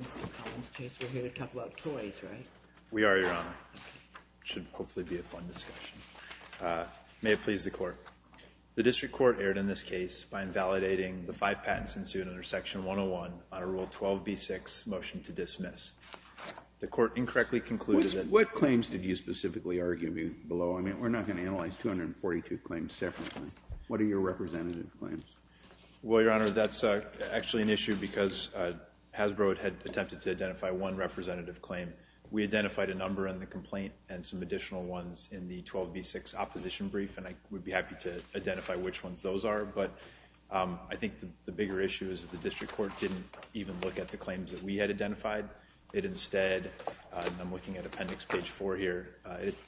Mr. Collins, Chase, we're here to talk about toys, right? We are, Your Honor. It should hopefully be a fun discussion. May it please the Court. The District Court erred in this case by invalidating the five patents ensued under Section 101 under Rule 12b6, Motion to Dismiss. The Court incorrectly concluded that What claims did you specifically argue below? I mean, we're not going to analyze 242 claims separately. What are your representative claims? Well, Your Honor, that's actually an issue because Hasbro had attempted to identify one representative claim. We identified a number in the complaint and some additional ones in the 12b6 opposition brief, and I would be happy to identify which ones those are. But I think the bigger issue is that the District Court didn't even look at the claims that we had identified. It instead, and I'm looking at Appendix Page 4 here,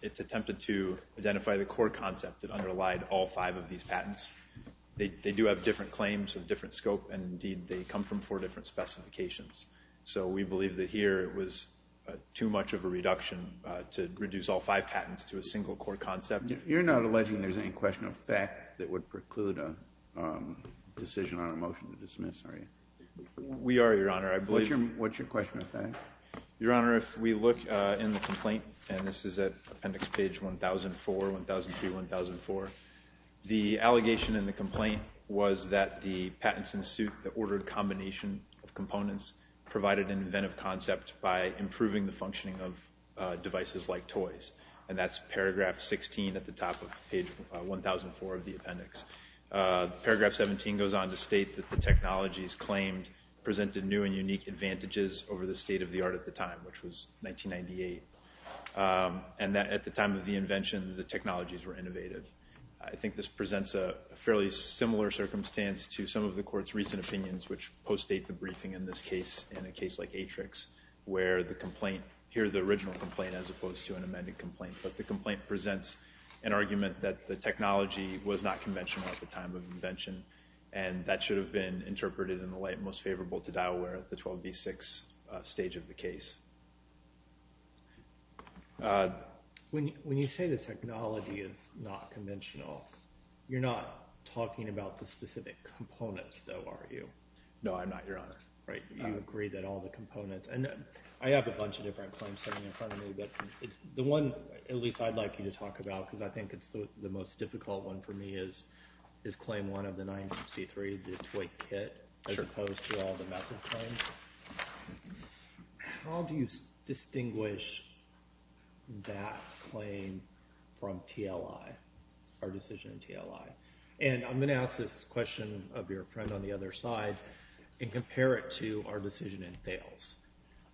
it attempted to identify the core concept that underlied all five of these patents. They do have different claims of different scope, and indeed, they come from four different specifications. So we believe that here it was too much of a reduction to reduce all five patents to a single core concept. You're not alleging there's any question of fact that would preclude a decision on a motion to dismiss, are you? We are, Your Honor. I believe What's your question of fact? Your Honor, if we look in the complaint, and this is at Appendix Page 1004, 1003, 1004, the allegation in the complaint was that the patents in suit that ordered a combination of components provided an inventive concept by improving the functioning of devices like toys, and that's Paragraph 16 at the top of Page 1004 of the appendix. Paragraph 17 goes on to state that the technologies claimed presented new and unique advantages over the state of the art at the time, which was 1998, and that at the time of the invention, the technologies were innovative. I think this presents a fairly similar circumstance to some of the Court's recent opinions, which postdate the briefing in this case, in a case like Atrix, where the complaint, here the original complaint as opposed to an amended complaint, but the complaint presents an argument that the technology was not conventional at the time of invention, and that should have been interpreted in the light most favorable to Dioware at the 12B6 stage of the case. When you say the technology is not conventional, you're not talking about the specific components, though, are you? No, I'm not, Your Honor. You agree that all the components, and I have a bunch of different claims sitting in front of me, but the one at least I'd like you to talk about, because I think it's the most difficult one for me, is claim one of the 963, the toy kit, as opposed to all the method claims. How do you distinguish that claim from TLI, our decision in TLI? And I'm going to ask this question of your friend on the other side, and compare it to our decision in Thales,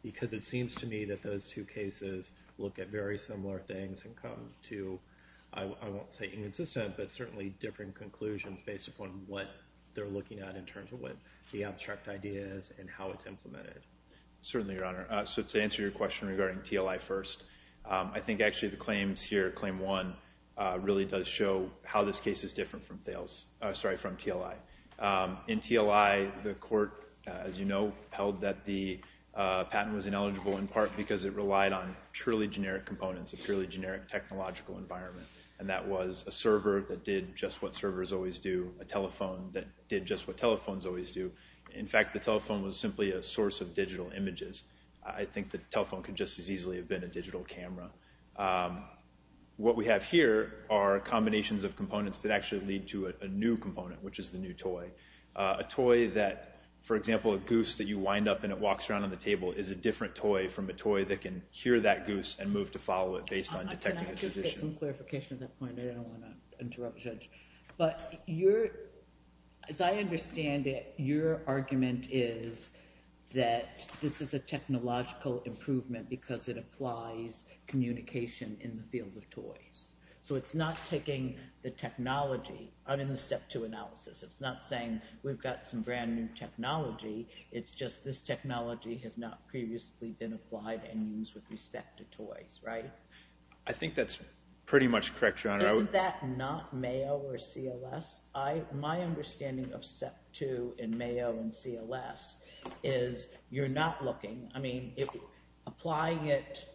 because it seems to me that those two cases look at very similar things and come to, I won't say inconsistent, but certainly different conclusions based upon what they're looking at in terms of what the abstract idea is and how it's implemented. Certainly, Your Honor. So to answer your question regarding TLI first, I think actually the claims here, claim one, really does show how this case is different from Thales, sorry, from TLI. In TLI, the court, as you know, held that the patent was ineligible in part because it relied on purely generic components, a purely generic technological environment, and that was a server that did just what servers always do, a telephone that did just what telephones always do. In fact, the telephone was simply a source of digital images. I think the telephone could just as easily have been a digital camera. What we have here are combinations of components that actually lead to a new component, which is the new toy, a toy that, for example, a goose that you wind up and it walks around on the table is a different toy from a toy that can hear that goose and move to follow it based on detecting the position. Can I just get some clarification on that point? I don't want to interrupt the judge. But as I understand it, your argument is that this is a technological improvement because it applies communication in the field of toys. So it's not taking the technology out in the step two analysis. It's just this technology has not previously been applied and used with respect to toys, right? I think that's pretty much correct, Your Honor. Isn't that not Mayo or CLS? My understanding of step two in Mayo and CLS is you're not looking – I mean, applying it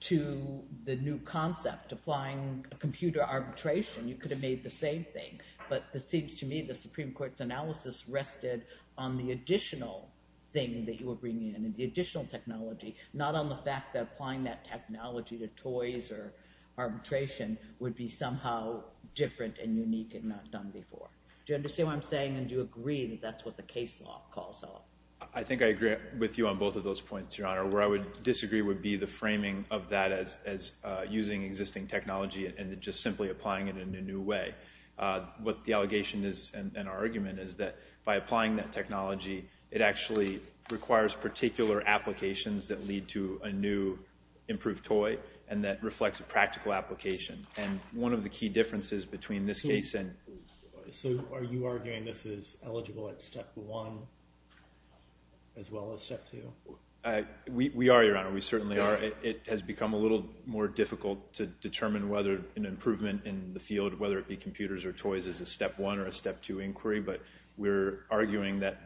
to the new concept, applying a computer arbitration, you could have made the same thing. But it seems to me the Supreme Court's analysis rested on the additional thing that you were bringing in, the additional technology, not on the fact that applying that technology to toys or arbitration would be somehow different and unique and not done before. Do you understand what I'm saying? And do you agree that that's what the case law calls out? I think I agree with you on both of those points, Your Honor. Where I would disagree would be the framing of that as using existing technology and just simply applying it in a new way. What the allegation is and our argument is that by applying that technology, it actually requires particular applications that lead to a new improved toy and that reflects a practical application. And one of the key differences between this case and – So are you arguing this is eligible at step one as well as step two? We are, Your Honor. We certainly are. It has become a little more difficult to determine whether an improvement in the field, whether it be computers or toys, is a step one or a step two inquiry. But we're arguing that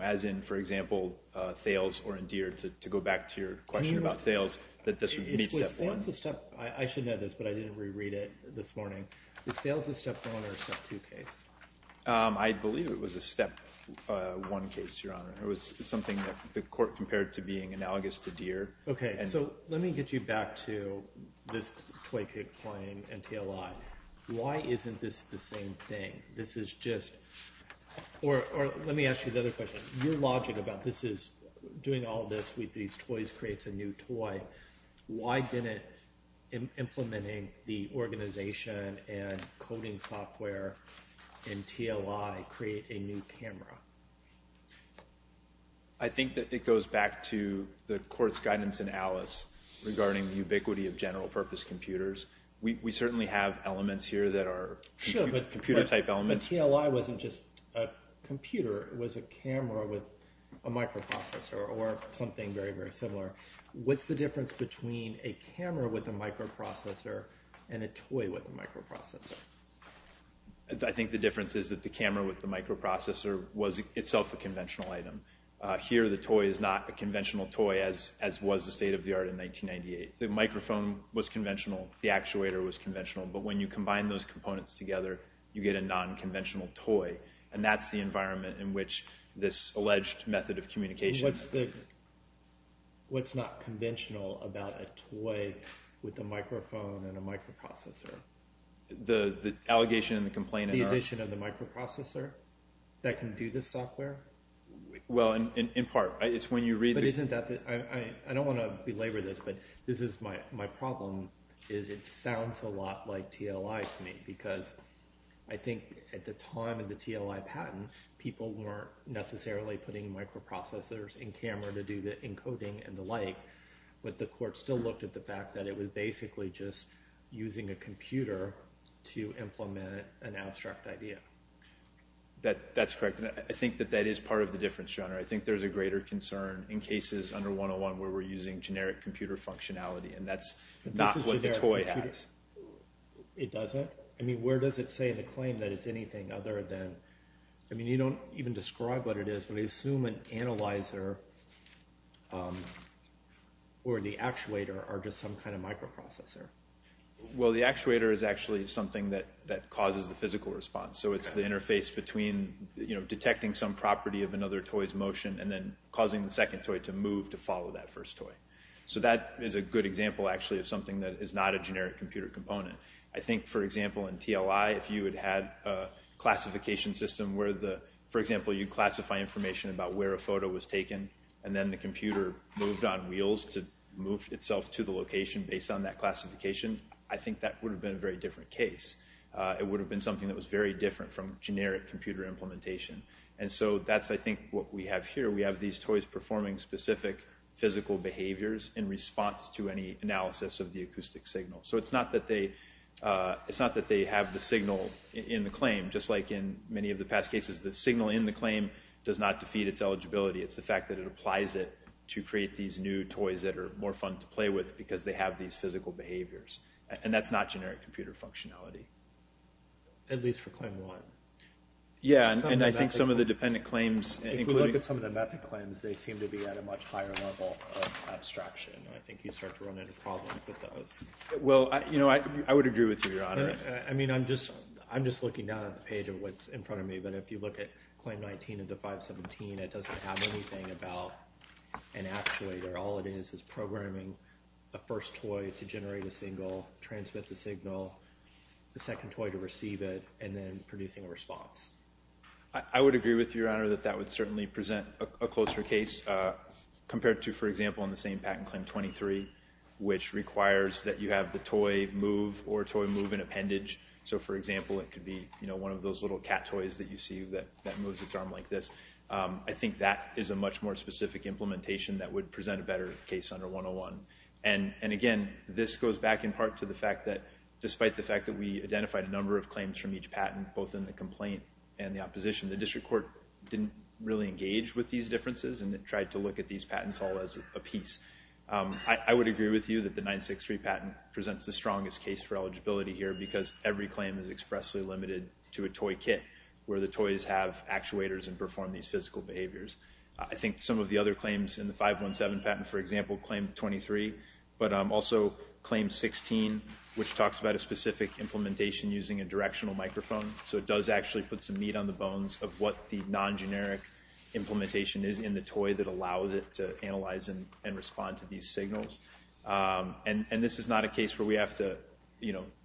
as in, for example, Thales or in Deere, to go back to your question about Thales, that this would be step one. I should know this, but I didn't reread it this morning. Is Thales a step one or a step two case? I believe it was a step one case, Your Honor. Okay. So let me get you back to this toy kit claim and TLI. Why isn't this the same thing? This is just – or let me ask you the other question. Your logic about this is doing all this with these toys creates a new toy. Why didn't implementing the organization and coding software in TLI create a new camera? I think that it goes back to the court's guidance in Alice regarding the ubiquity of general purpose computers. We certainly have elements here that are computer-type elements. Sure, but TLI wasn't just a computer. It was a camera with a microprocessor or something very, very similar. What's the difference between a camera with a microprocessor and a toy with a microprocessor? I think the difference is that the camera with the microprocessor was itself a conventional item. Here the toy is not a conventional toy as was the state-of-the-art in 1998. The microphone was conventional. The actuator was conventional. But when you combine those components together, you get a non-conventional toy. And that's the environment in which this alleged method of communication – What's not conventional about a toy with a microphone and a microprocessor? The allegation and the complaint are? The addition of the microprocessor that can do this software? Well, in part. I don't want to belabor this, but this is my problem. It sounds a lot like TLI to me because I think at the time of the TLI patent, people weren't necessarily putting microprocessors in camera to do the encoding and the like. But the court still looked at the fact that it was basically just using a computer to implement an abstract idea. That's correct, and I think that that is part of the difference, John. I think there's a greater concern in cases under 101 where we're using generic computer functionality, and that's not what the toy has. It doesn't? I mean, where does it say in the claim that it's anything other than – I mean, you don't even describe what it is, but I assume an analyzer or the actuator are just some kind of microprocessor. Well, the actuator is actually something that causes the physical response. So it's the interface between detecting some property of another toy's motion and then causing the second toy to move to follow that first toy. So that is a good example, actually, of something that is not a generic computer component. I think, for example, in TLI, if you had had a classification system where the – for example, you classify information about where a photo was taken, and then the computer moved on wheels to move itself to the location based on that classification, I think that would have been a very different case. It would have been something that was very different from generic computer implementation. And so that's, I think, what we have here. We have these toys performing specific physical behaviors in response to any analysis of the acoustic signal. So it's not that they have the signal in the claim. Just like in many of the past cases, the signal in the claim does not defeat its eligibility. It's the fact that it applies it to create these new toys that are more fun to play with because they have these physical behaviors. And that's not generic computer functionality. At least for claim one. Yeah, and I think some of the dependent claims – If we look at some of the method claims, they seem to be at a much higher level of abstraction. I think you start to run into problems with those. Well, you know, I would agree with you, Your Honor. I mean, I'm just looking down at the page of what's in front of me, but if you look at claim 19 of the 517, it doesn't have anything about an actuator. All it is is programming the first toy to generate a signal, transmit the signal, the second toy to receive it, and then producing a response. I would agree with you, Your Honor, that that would certainly present a closer case compared to, for example, in the same patent claim 23, which requires that you have the toy move or toy move an appendage. So, for example, it could be one of those little cat toys that you see that moves its arm like this. I think that is a much more specific implementation that would present a better case under 101. And, again, this goes back in part to the fact that, despite the fact that we identified a number of claims from each patent, both in the complaint and the opposition, the district court didn't really engage with these differences and tried to look at these patents all as a piece. I would agree with you that the 963 patent presents the strongest case for eligibility here because every claim is expressly limited to a toy kit, where the toys have actuators and perform these physical behaviors. I think some of the other claims in the 517 patent, for example, claim 23, but also claim 16, which talks about a specific implementation using a directional microphone, so it does actually put some meat on the bones of what the non-generic implementation is in the toy that allows it to analyze and respond to these signals. And this is not a case where we have to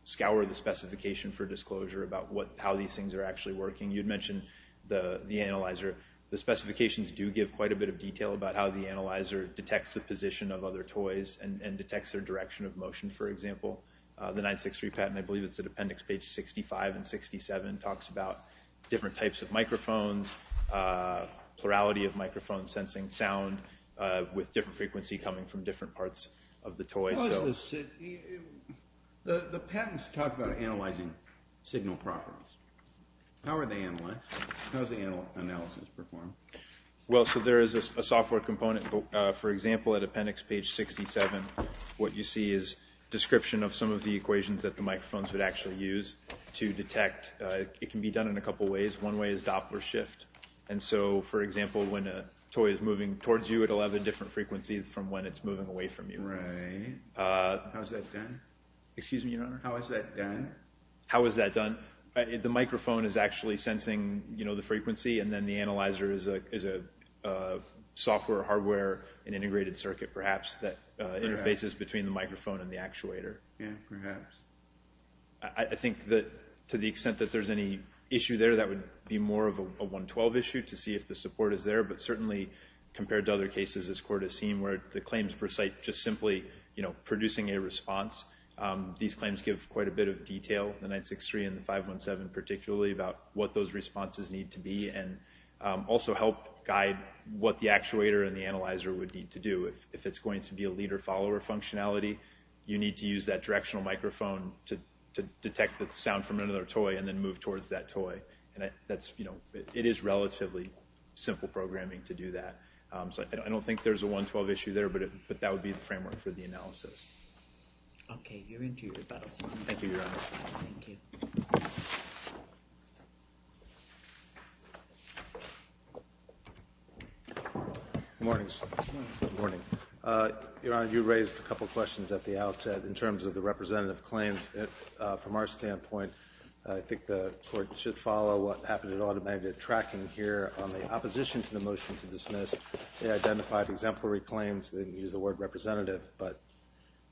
scour the specification for disclosure about how these things are actually working. You had mentioned the analyzer. The specifications do give quite a bit of detail about how the analyzer detects the position of other toys and detects their direction of motion, for example. The 963 patent, I believe it's at appendix page 65 and 67, talks about different types of microphones, plurality of microphones sensing sound with different frequency coming from different parts of the toy. The patents talk about analyzing signal properties. How are they analyzed? How is the analysis performed? Well, so there is a software component. For example, at appendix page 67, what you see is a description of some of the equations that the microphones would actually use to detect. It can be done in a couple of ways. One way is Doppler shift. And so, for example, when a toy is moving towards you, it will have a different frequency from when it's moving away from you. Right. How is that done? Excuse me, Your Honor? How is that done? How is that done? The microphone is actually sensing the frequency, and then the analyzer is a software or hardware, an integrated circuit perhaps, that interfaces between the microphone and the actuator. Yeah, perhaps. I think that to the extent that there's any issue there, that would be more of a 112 issue to see if the support is there. But certainly compared to other cases this Court has seen where the claims recite just simply producing a response, these claims give quite a bit of detail, the 963 and the 517 particularly, about what those responses need to be and also help guide what the actuator and the analyzer would need to do. If it's going to be a leader-follower functionality, you need to use that directional microphone to detect the sound from another toy and then move towards that toy. And it is relatively simple programming to do that. So I don't think there's a 112 issue there, but that would be the framework for the analysis. Okay. You're into your battles. Thank you, Your Honor. Thank you. Good morning. Good morning. Your Honor, you raised a couple of questions at the outset in terms of the representative claims. From our standpoint, I think the Court should follow what happened at Audit Magnet tracking here. On the opposition to the motion to dismiss, they identified exemplary claims. They didn't use the word representative, but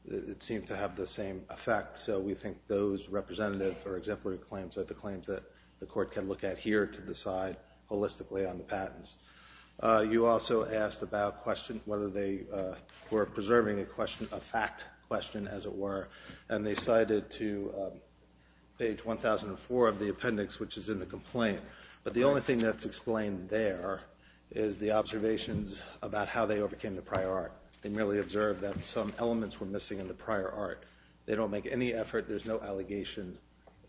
it seemed to have the same effect. So we think those representative or exemplary claims are the claims that the Court can look at here to decide holistically on the patents. You also asked about whether they were preserving a fact question, as it were, and they cited to page 1004 of the appendix, which is in the complaint. But the only thing that's explained there is the observations about how they overcame the prior art. They merely observed that some elements were missing in the prior art. They don't make any effort. There's no allegation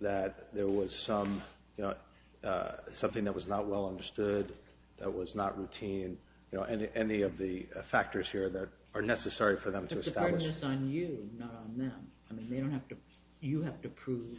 that there was something that was not well understood, that was not routine, any of the factors here that are necessary for them to establish. But the burden is on you, not on them. I mean, you have to prove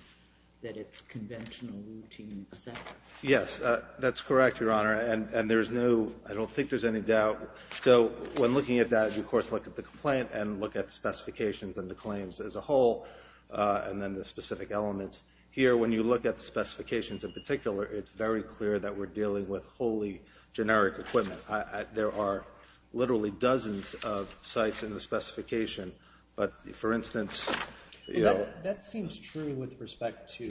that it's conventional, routine, et cetera. Yes, that's correct, Your Honor, and I don't think there's any doubt. So when looking at that, you, of course, look at the complaint and look at the specifications and the claims as a whole, and then the specific elements. Here, when you look at the specifications in particular, it's very clear that we're dealing with wholly generic equipment. There are literally dozens of sites in the specification. But, for instance, you know— That seems true with respect to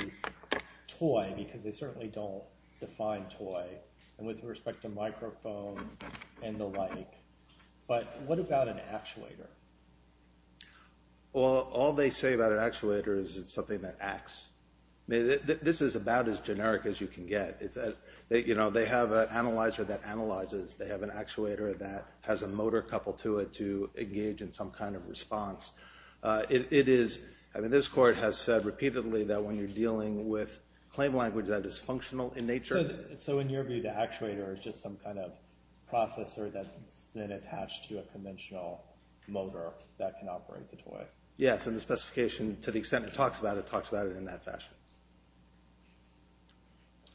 toy, because they certainly don't define toy, and with respect to microphone and the like. But what about an actuator? Well, all they say about an actuator is it's something that acts. This is about as generic as you can get. You know, they have an analyzer that analyzes. They have an actuator that has a motor coupled to it to engage in some kind of response. It is—I mean, this Court has said repeatedly that when you're dealing with claim language that is functional in nature— then attached to a conventional motor that can operate the toy. Yes, and the specification, to the extent it talks about it, talks about it in that fashion.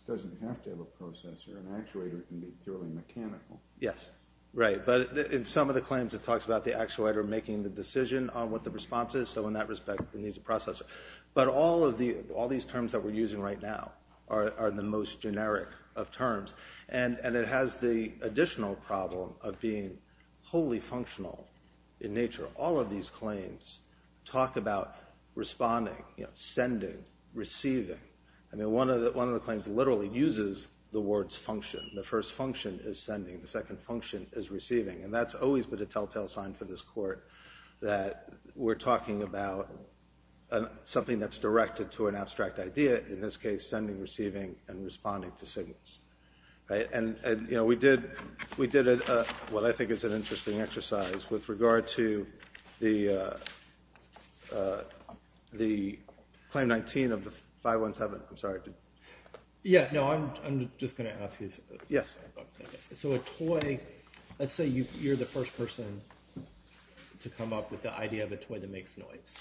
It doesn't have to have a processor. An actuator can be purely mechanical. Yes, right. But in some of the claims, it talks about the actuator making the decision on what the response is. So in that respect, it needs a processor. But all these terms that we're using right now are the most generic of terms. And it has the additional problem of being wholly functional in nature. All of these claims talk about responding, sending, receiving. I mean, one of the claims literally uses the words function. The first function is sending. The second function is receiving. And that's always been a telltale sign for this Court that we're talking about something that's directed to an abstract idea. In this case, sending, receiving, and responding to signals. And we did what I think is an interesting exercise with regard to the Claim 19 of the 517. I'm sorry. Yeah, no, I'm just going to ask you something. Yes. So a toy—let's say you're the first person to come up with the idea of a toy that makes noise.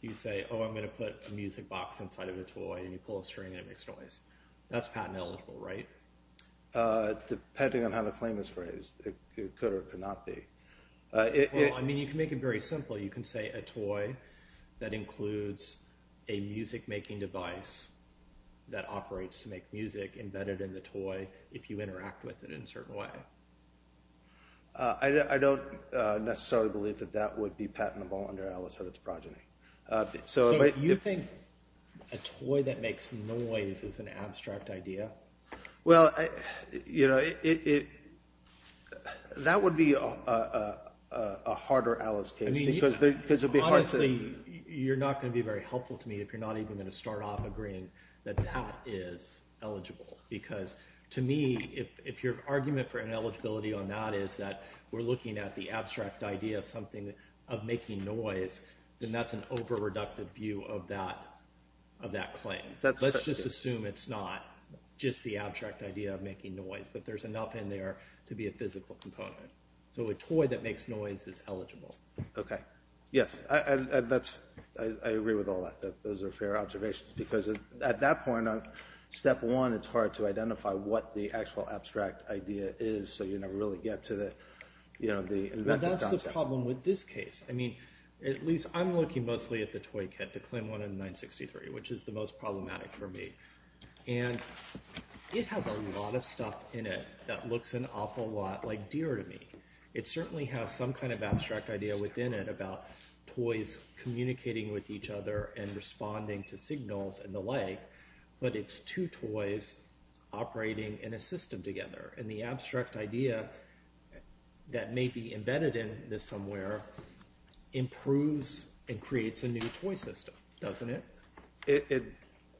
You say, oh, I'm going to put a music box inside of a toy, and you pull a string and it makes noise. That's patent eligible, right? Depending on how the claim is phrased, it could or it could not be. Well, I mean, you can make it very simple. You can say a toy that includes a music-making device that operates to make music embedded in the toy if you interact with it in a certain way. I don't necessarily believe that that would be patentable under Alice and her progeny. So you think a toy that makes noise is an abstract idea? Well, you know, that would be a harder Alice case because it would be hard to— Honestly, you're not going to be very helpful to me if you're not even going to start off agreeing that that is eligible. Because to me, if your argument for ineligibility or not is that we're looking at the abstract idea of something of making noise, then that's an over-reductive view of that claim. Let's just assume it's not just the abstract idea of making noise, but there's enough in there to be a physical component. So a toy that makes noise is eligible. Okay. Yes. I agree with all that. Those are fair observations because at that point, step one, it's hard to identify what the actual abstract idea is so you never really get to the— That's the problem with this case. I mean, at least I'm looking mostly at the toy kit, the Clem one in 963, which is the most problematic for me. And it has a lot of stuff in it that looks an awful lot like deer to me. It certainly has some kind of abstract idea within it about toys communicating with each other and responding to signals and the like. But it's two toys operating in a system together. And the abstract idea that may be embedded in this somewhere improves and creates a new toy system, doesn't it?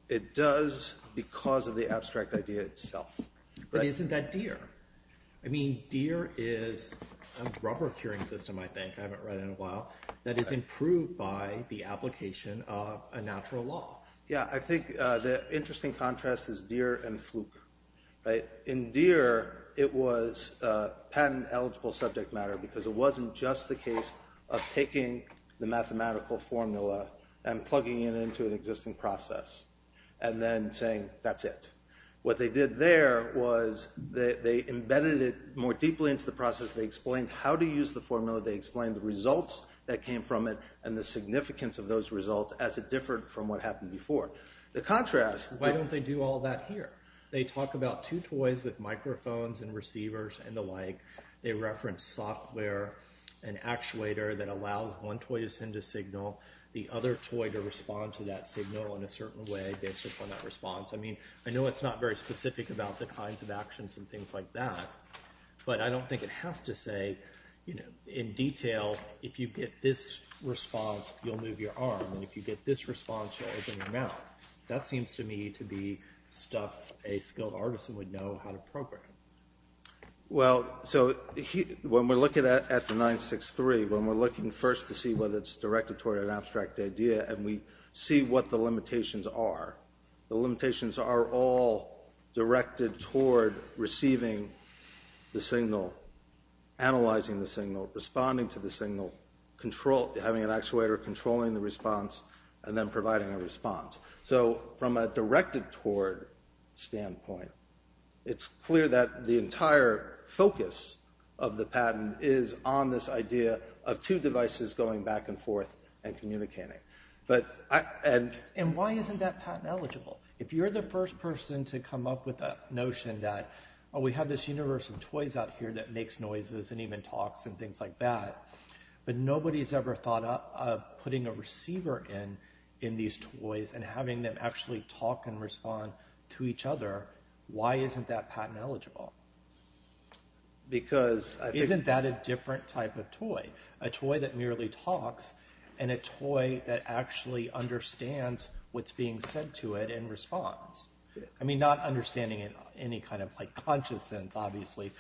It does because of the abstract idea itself. But isn't that deer? I mean, deer is a rubber-curing system, I think. I haven't read it in a while. That is improved by the application of a natural law. Yeah, I think the interesting contrast is deer and fluke. In deer, it was patent-eligible subject matter because it wasn't just the case of taking the mathematical formula and plugging it into an existing process and then saying, that's it. What they did there was they embedded it more deeply into the process. They explained how to use the formula. They explained the results that came from it and the significance of those results as it differed from what happened before. Why don't they do all that here? They talk about two toys with microphones and receivers and the like. They reference software, an actuator that allows one toy to send a signal, the other toy to respond to that signal in a certain way based upon that response. I know it's not very specific about the kinds of actions and things like that, but I don't think it has to say in detail if you get this response, you'll move your arm, and if you get this response, you'll open your mouth. That seems to me to be stuff a skilled artisan would know how to program. When we're looking at the 963, when we're looking first to see whether it's directed toward an abstract idea and we see what the limitations are, the limitations are all directed toward receiving the signal, analyzing the signal, responding to the signal, having an actuator controlling the response, and then providing a response. From a directed-toward standpoint, it's clear that the entire focus of the patent is on this idea of two devices going back and forth and communicating. Why isn't that patent eligible? If you're the first person to come up with the notion that we have this universe of toys out here that makes noises and even talks and things like that, but nobody's ever thought of putting a receiver in these toys and having them actually talk and respond to each other, why isn't that patent eligible? Isn't that a different type of toy, a toy that merely talks and a toy that actually understands what's being said to it and responds? Not understanding it in any kind of conscious sense, obviously,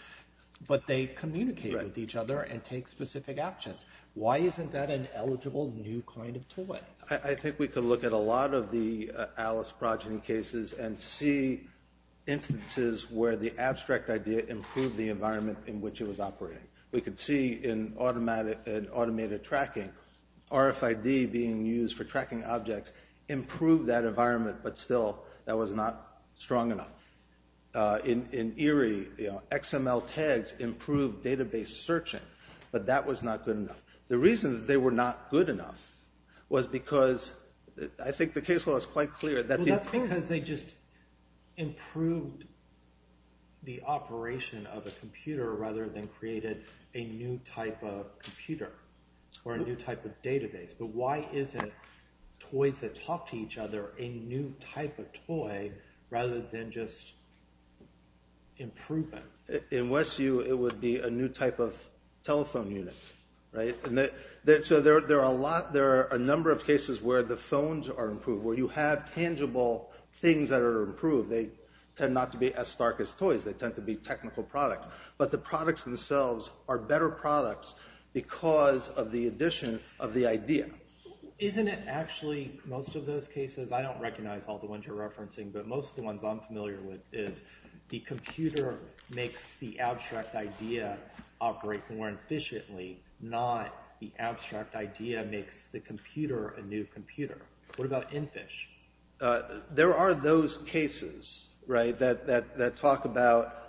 but they communicate with each other and take specific actions. Why isn't that an eligible new kind of toy? I think we could look at a lot of the Alice Progeny cases and see instances where the abstract idea improved the environment in which it was operating. We could see in automated tracking, RFID being used for tracking objects improved that environment, but still that was not strong enough. In Erie, XML tags improved database searching, but that was not good enough. The reason that they were not good enough was because I think the case law is quite clear. That's because they just improved the operation of a computer rather than created a new type of computer or a new type of database. But why isn't toys that talk to each other a new type of toy rather than just improvement? In Westview, it would be a new type of telephone unit. There are a number of cases where the phones are improved, where you have tangible things that are improved. They tend not to be as stark as toys. They tend to be technical products. But the products themselves are better products because of the addition of the idea. Isn't it actually most of those cases? I don't recognize all the ones you're referencing, but most of the ones I'm familiar with is the computer makes the abstract idea operate more efficiently, not the abstract idea makes the computer a new computer. What about EnFish? There are those cases that talk about...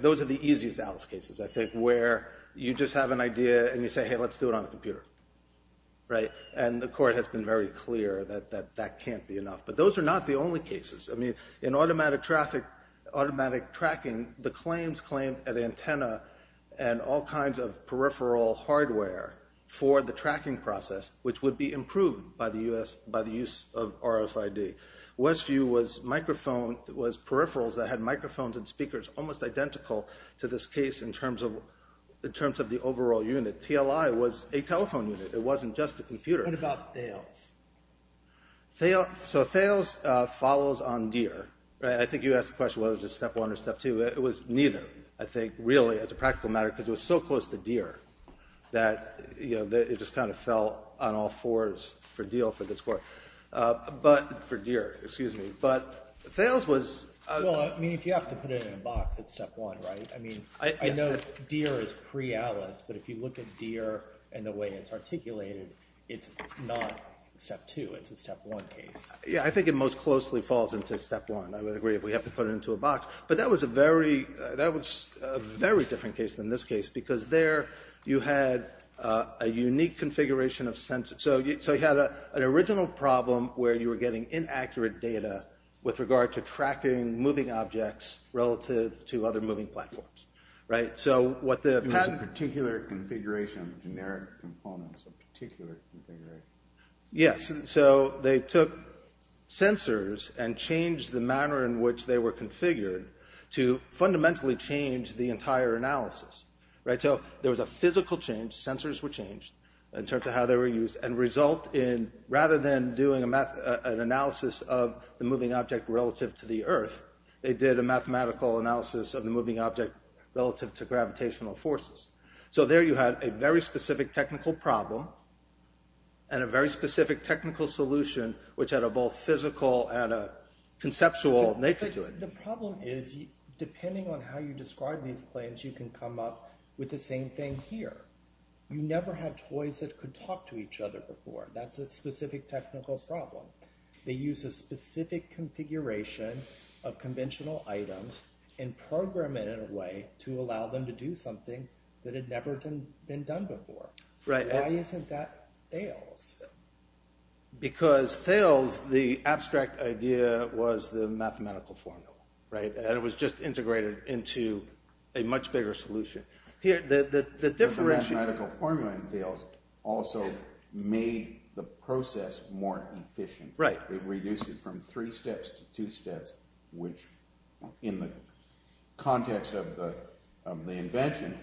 Those are the easiest Alice cases, I think, where you just have an idea and you say, hey, let's do it on a computer. And the court has been very clear that that can't be enough. But those are not the only cases. In automatic tracking, the claims claim an antenna and all kinds of peripheral hardware for the tracking process, which would be improved by the use of RFID. Westview was peripherals that had microphones and speakers almost identical to this case in terms of the overall unit. TLI was a telephone unit. It wasn't just a computer. What about Thales? So Thales follows on Deere. I think you asked the question whether it was Step 1 or Step 2. It was neither, I think, really, as a practical matter, because it was so close to Deere that it just kind of fell on all fours for Deere, for this court. But Thales was... Well, I mean, if you have to put it in a box, it's Step 1, right? I mean, I know Deere is pre-ALICE, but if you look at Deere and the way it's articulated, it's not Step 2. It's a Step 1 case. Yeah, I think it most closely falls into Step 1. I would agree if we have to put it into a box. But that was a very different case than this case, because there you had a unique configuration of sensors. So you had an original problem where you were getting inaccurate data with regard to tracking moving objects relative to other moving platforms. So what the patent... It was a particular configuration, generic components of a particular configuration. Yes, so they took sensors and changed the manner in which they were configured to fundamentally change the entire analysis. So there was a physical change. Sensors were changed in terms of how they were used and result in, rather than doing an analysis of the moving object relative to the Earth, they did a mathematical analysis of the moving object relative to gravitational forces. So there you had a very specific technical problem and a very specific technical solution, which had a both physical and a conceptual nature to it. But the problem is, depending on how you describe these claims, you can come up with the same thing here. You never had toys that could talk to each other before. That's a specific technical problem. They used a specific configuration of conventional items and programmed it in a way to allow them to do something that had never been done before. Why isn't that Thales? Because Thales, the abstract idea was the mathematical formula. And it was just integrated into a much bigger solution. The mathematical formula in Thales also made the process more efficient. It reduced it from three steps to two steps, which in the context of the invention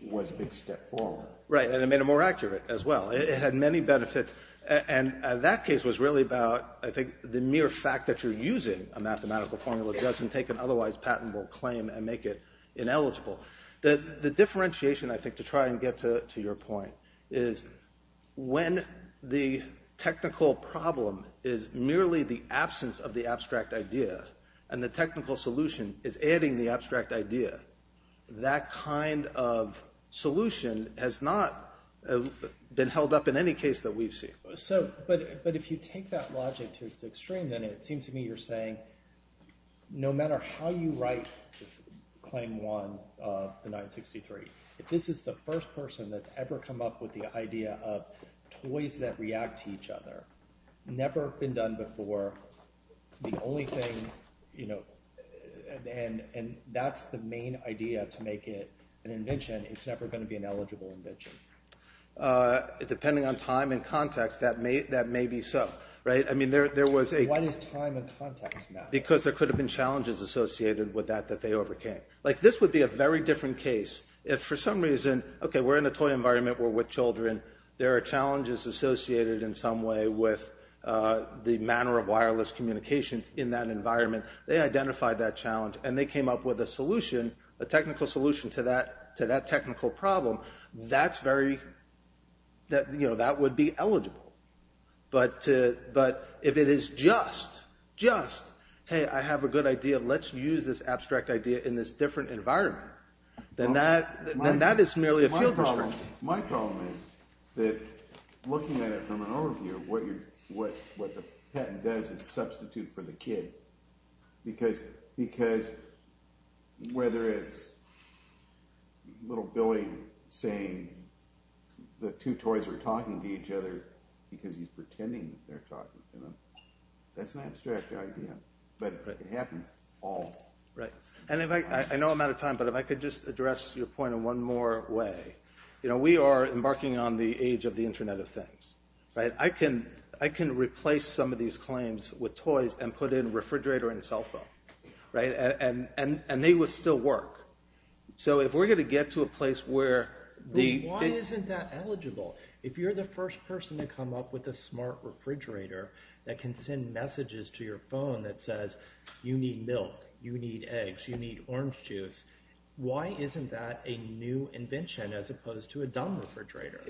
was a big step forward. Right, and it made it more accurate as well. It had many benefits. And that case was really about, I think, the mere fact that you're using a mathematical formula doesn't take an otherwise patentable claim and make it ineligible. The differentiation, I think, to try and get to your point, is when the technical problem is merely the absence of the abstract idea and the technical solution is adding the abstract idea, that kind of solution has not been held up in any case that we've seen. But if you take that logic to its extreme, then it seems to me you're saying, no matter how you write claim one of the 963, if this is the first person that's ever come up with the idea of toys that react to each other, never been done before, the only thing, and that's the main idea to make it an invention, it's never going to be an eligible invention. Depending on time and context, that may be so. Why does time and context matter? Because there could have been challenges associated with that that they overcame. This would be a very different case if for some reason, okay, we're in a toy environment, we're with children, there are challenges associated in some way with the manner of wireless communications in that environment. They identified that challenge and they came up with a solution, a technical solution to that technical problem. That would be eligible. But if it is just, just, hey, I have a good idea, let's use this abstract idea in this different environment, then that is merely a field restriction. My problem is that looking at it from an overview, what the patent does is substitute for the kid. Because whether it's little Billy saying the two toys are talking to each other because he's pretending they're talking to them, that's an abstract idea, but it happens all the time. I know I'm out of time, but if I could just address your point in one more way. We are embarking on the age of the Internet of Things. I can replace some of these claims with toys and put in refrigerator and cell phone, and they would still work. So if we're going to get to a place where... Why isn't that eligible? If you're the first person to come up with a smart refrigerator that can send messages to your phone that says, you need milk, you need eggs, you need orange juice, why isn't that a new invention as opposed to a dumb refrigerator?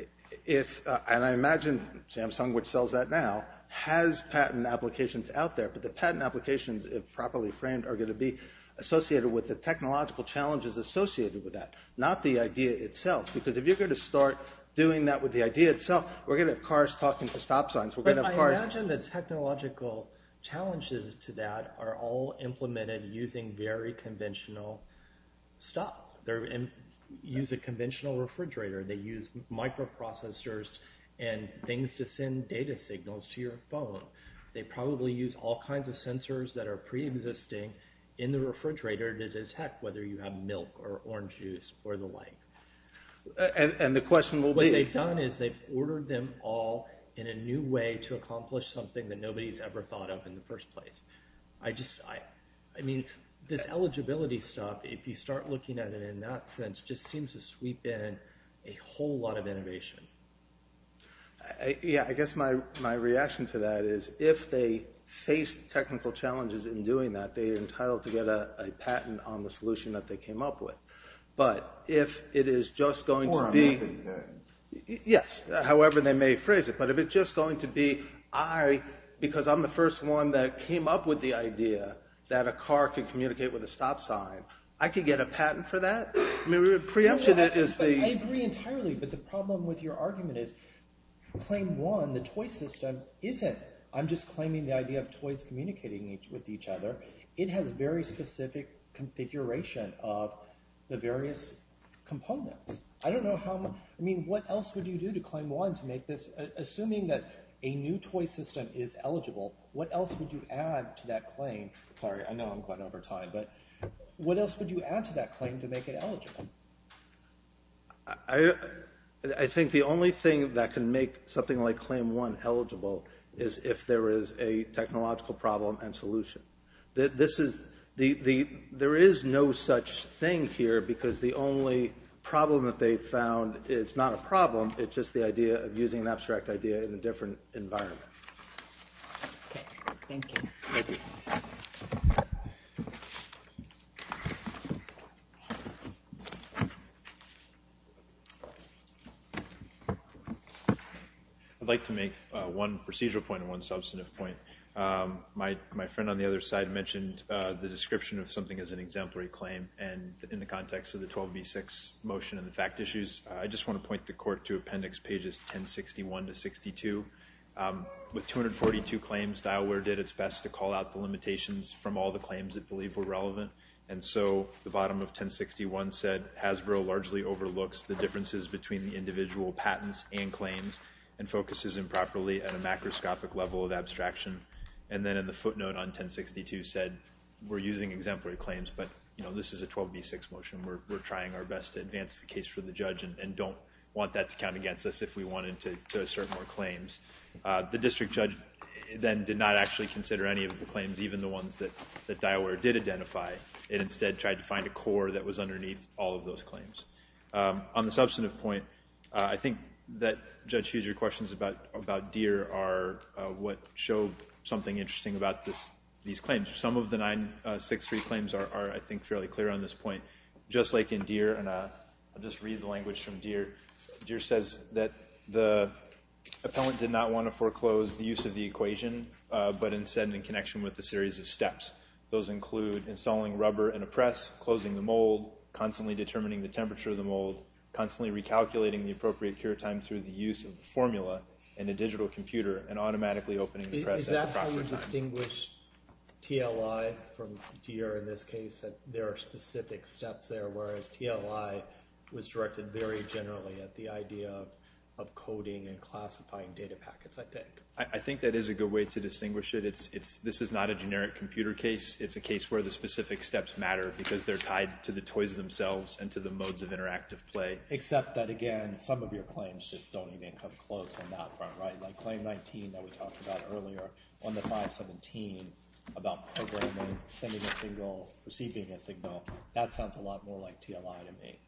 And I imagine Samsung, which sells that now, has patent applications out there, but the patent applications, if properly framed, are going to be associated with the technological challenges associated with that, not the idea itself. Because if you're going to start doing that with the idea itself, we're going to have cars talking to stop signs. I imagine the technological challenges to that are all implemented using very conventional stuff. They use a conventional refrigerator. They use microprocessors and things to send data signals to your phone. They probably use all kinds of sensors that are preexisting in the refrigerator to detect whether you have milk or orange juice or the like. And the question will be... What they've done is they've ordered them all in a new way to accomplish something that nobody's ever thought of in the first place. I just... I mean, this eligibility stuff, if you start looking at it in that sense, just seems to sweep in a whole lot of innovation. Yeah, I guess my reaction to that is if they face technical challenges in doing that, they're entitled to get a patent on the solution that they came up with. But if it is just going to be... Yes, however they may phrase it. But if it's just going to be, because I'm the first one that came up with the idea that a car could communicate with a stop sign, I could get a patent for that? I mean, preemption is the... Your argument is claim one, the toy system, isn't... I'm just claiming the idea of toys communicating with each other. It has very specific configuration of the various components. I don't know how... I mean, what else would you do to claim one to make this... Assuming that a new toy system is eligible, what else would you add to that claim? Sorry, I know I'm going over time, but what else would you add to that claim to make it eligible? I think the only thing that can make something like claim one eligible is if there is a technological problem and solution. There is no such thing here because the only problem that they've found, it's not a problem, it's just the idea of using an abstract idea in a different environment. Okay, thank you. Thank you. Thank you. I'd like to make one procedural point and one substantive point. My friend on the other side mentioned the description of something as an exemplary claim, and in the context of the 12v6 motion and the fact issues, I just want to point the court to appendix pages 1061 to 62. With 242 claims, Dialware did its best to call out the limitations from all the claims it believed were relevant, and so the bottom of 1061 said Hasbro largely overlooks the differences between the individual patents and claims and focuses improperly at a macroscopic level of abstraction. And then in the footnote on 1062 said we're using exemplary claims, but this is a 12v6 motion. We're trying our best to advance the case for the judge and don't want that to count against us if we wanted to assert more claims. The district judge then did not actually consider any of the claims, even the ones that Dialware did identify, and instead tried to find a core that was underneath all of those claims. On the substantive point, I think that Judge Huger's questions about Deere are what show something interesting about these claims. Some of the 963 claims are, I think, fairly clear on this point. Just like in Deere, and I'll just read the language from Deere. Deere says that the appellant did not want to foreclose the use of the equation, but instead in connection with a series of steps. Those include installing rubber in a press, closing the mold, constantly determining the temperature of the mold, constantly recalculating the appropriate cure time through the use of the formula in a digital computer, and automatically opening the press at the proper time. Is that how you distinguish TLI from Deere in this case, that there are specific steps there, whereas TLI was directed very generally at the idea of coding and classifying data packets, I think. I think that is a good way to distinguish it. This is not a generic computer case. It's a case where the specific steps matter because they're tied to the toys themselves and to the modes of interactive play. Except that, again, some of your claims just don't even come close on that front, right? Like claim 19 that we talked about earlier, on the 517, about over a month sending a signal, receiving a signal, that sounds a lot more like TLI to me.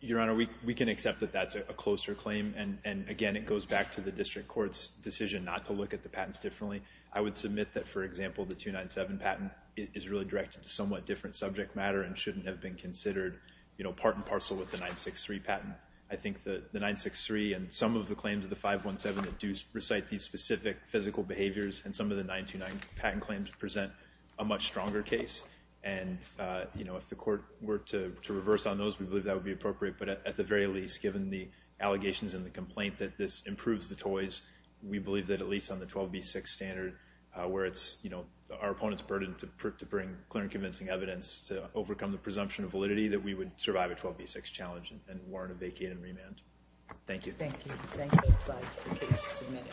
Your Honor, we can accept that that's a closer claim, and again, it goes back to the district court's decision not to look at the patents differently. I would submit that, for example, the 297 patent is really directed to somewhat different subject matter and shouldn't have been considered, you know, part and parcel with the 963 patent. I think that the 963 and some of the claims of the 517 that do recite these specific physical behaviors and some of the 929 patent claims present a much stronger case. And, you know, if the court were to reverse on those, we believe that would be appropriate, but at the very least, given the allegations and the complaint that this improves the toys, we believe that at least on the 12b6 standard, where it's, you know, our opponent's burden to bring clear and convincing evidence to overcome the presumption of validity that we would survive a 12b6 challenge and warrant a vacate and remand. Thank you. Thank you. The case is submitted.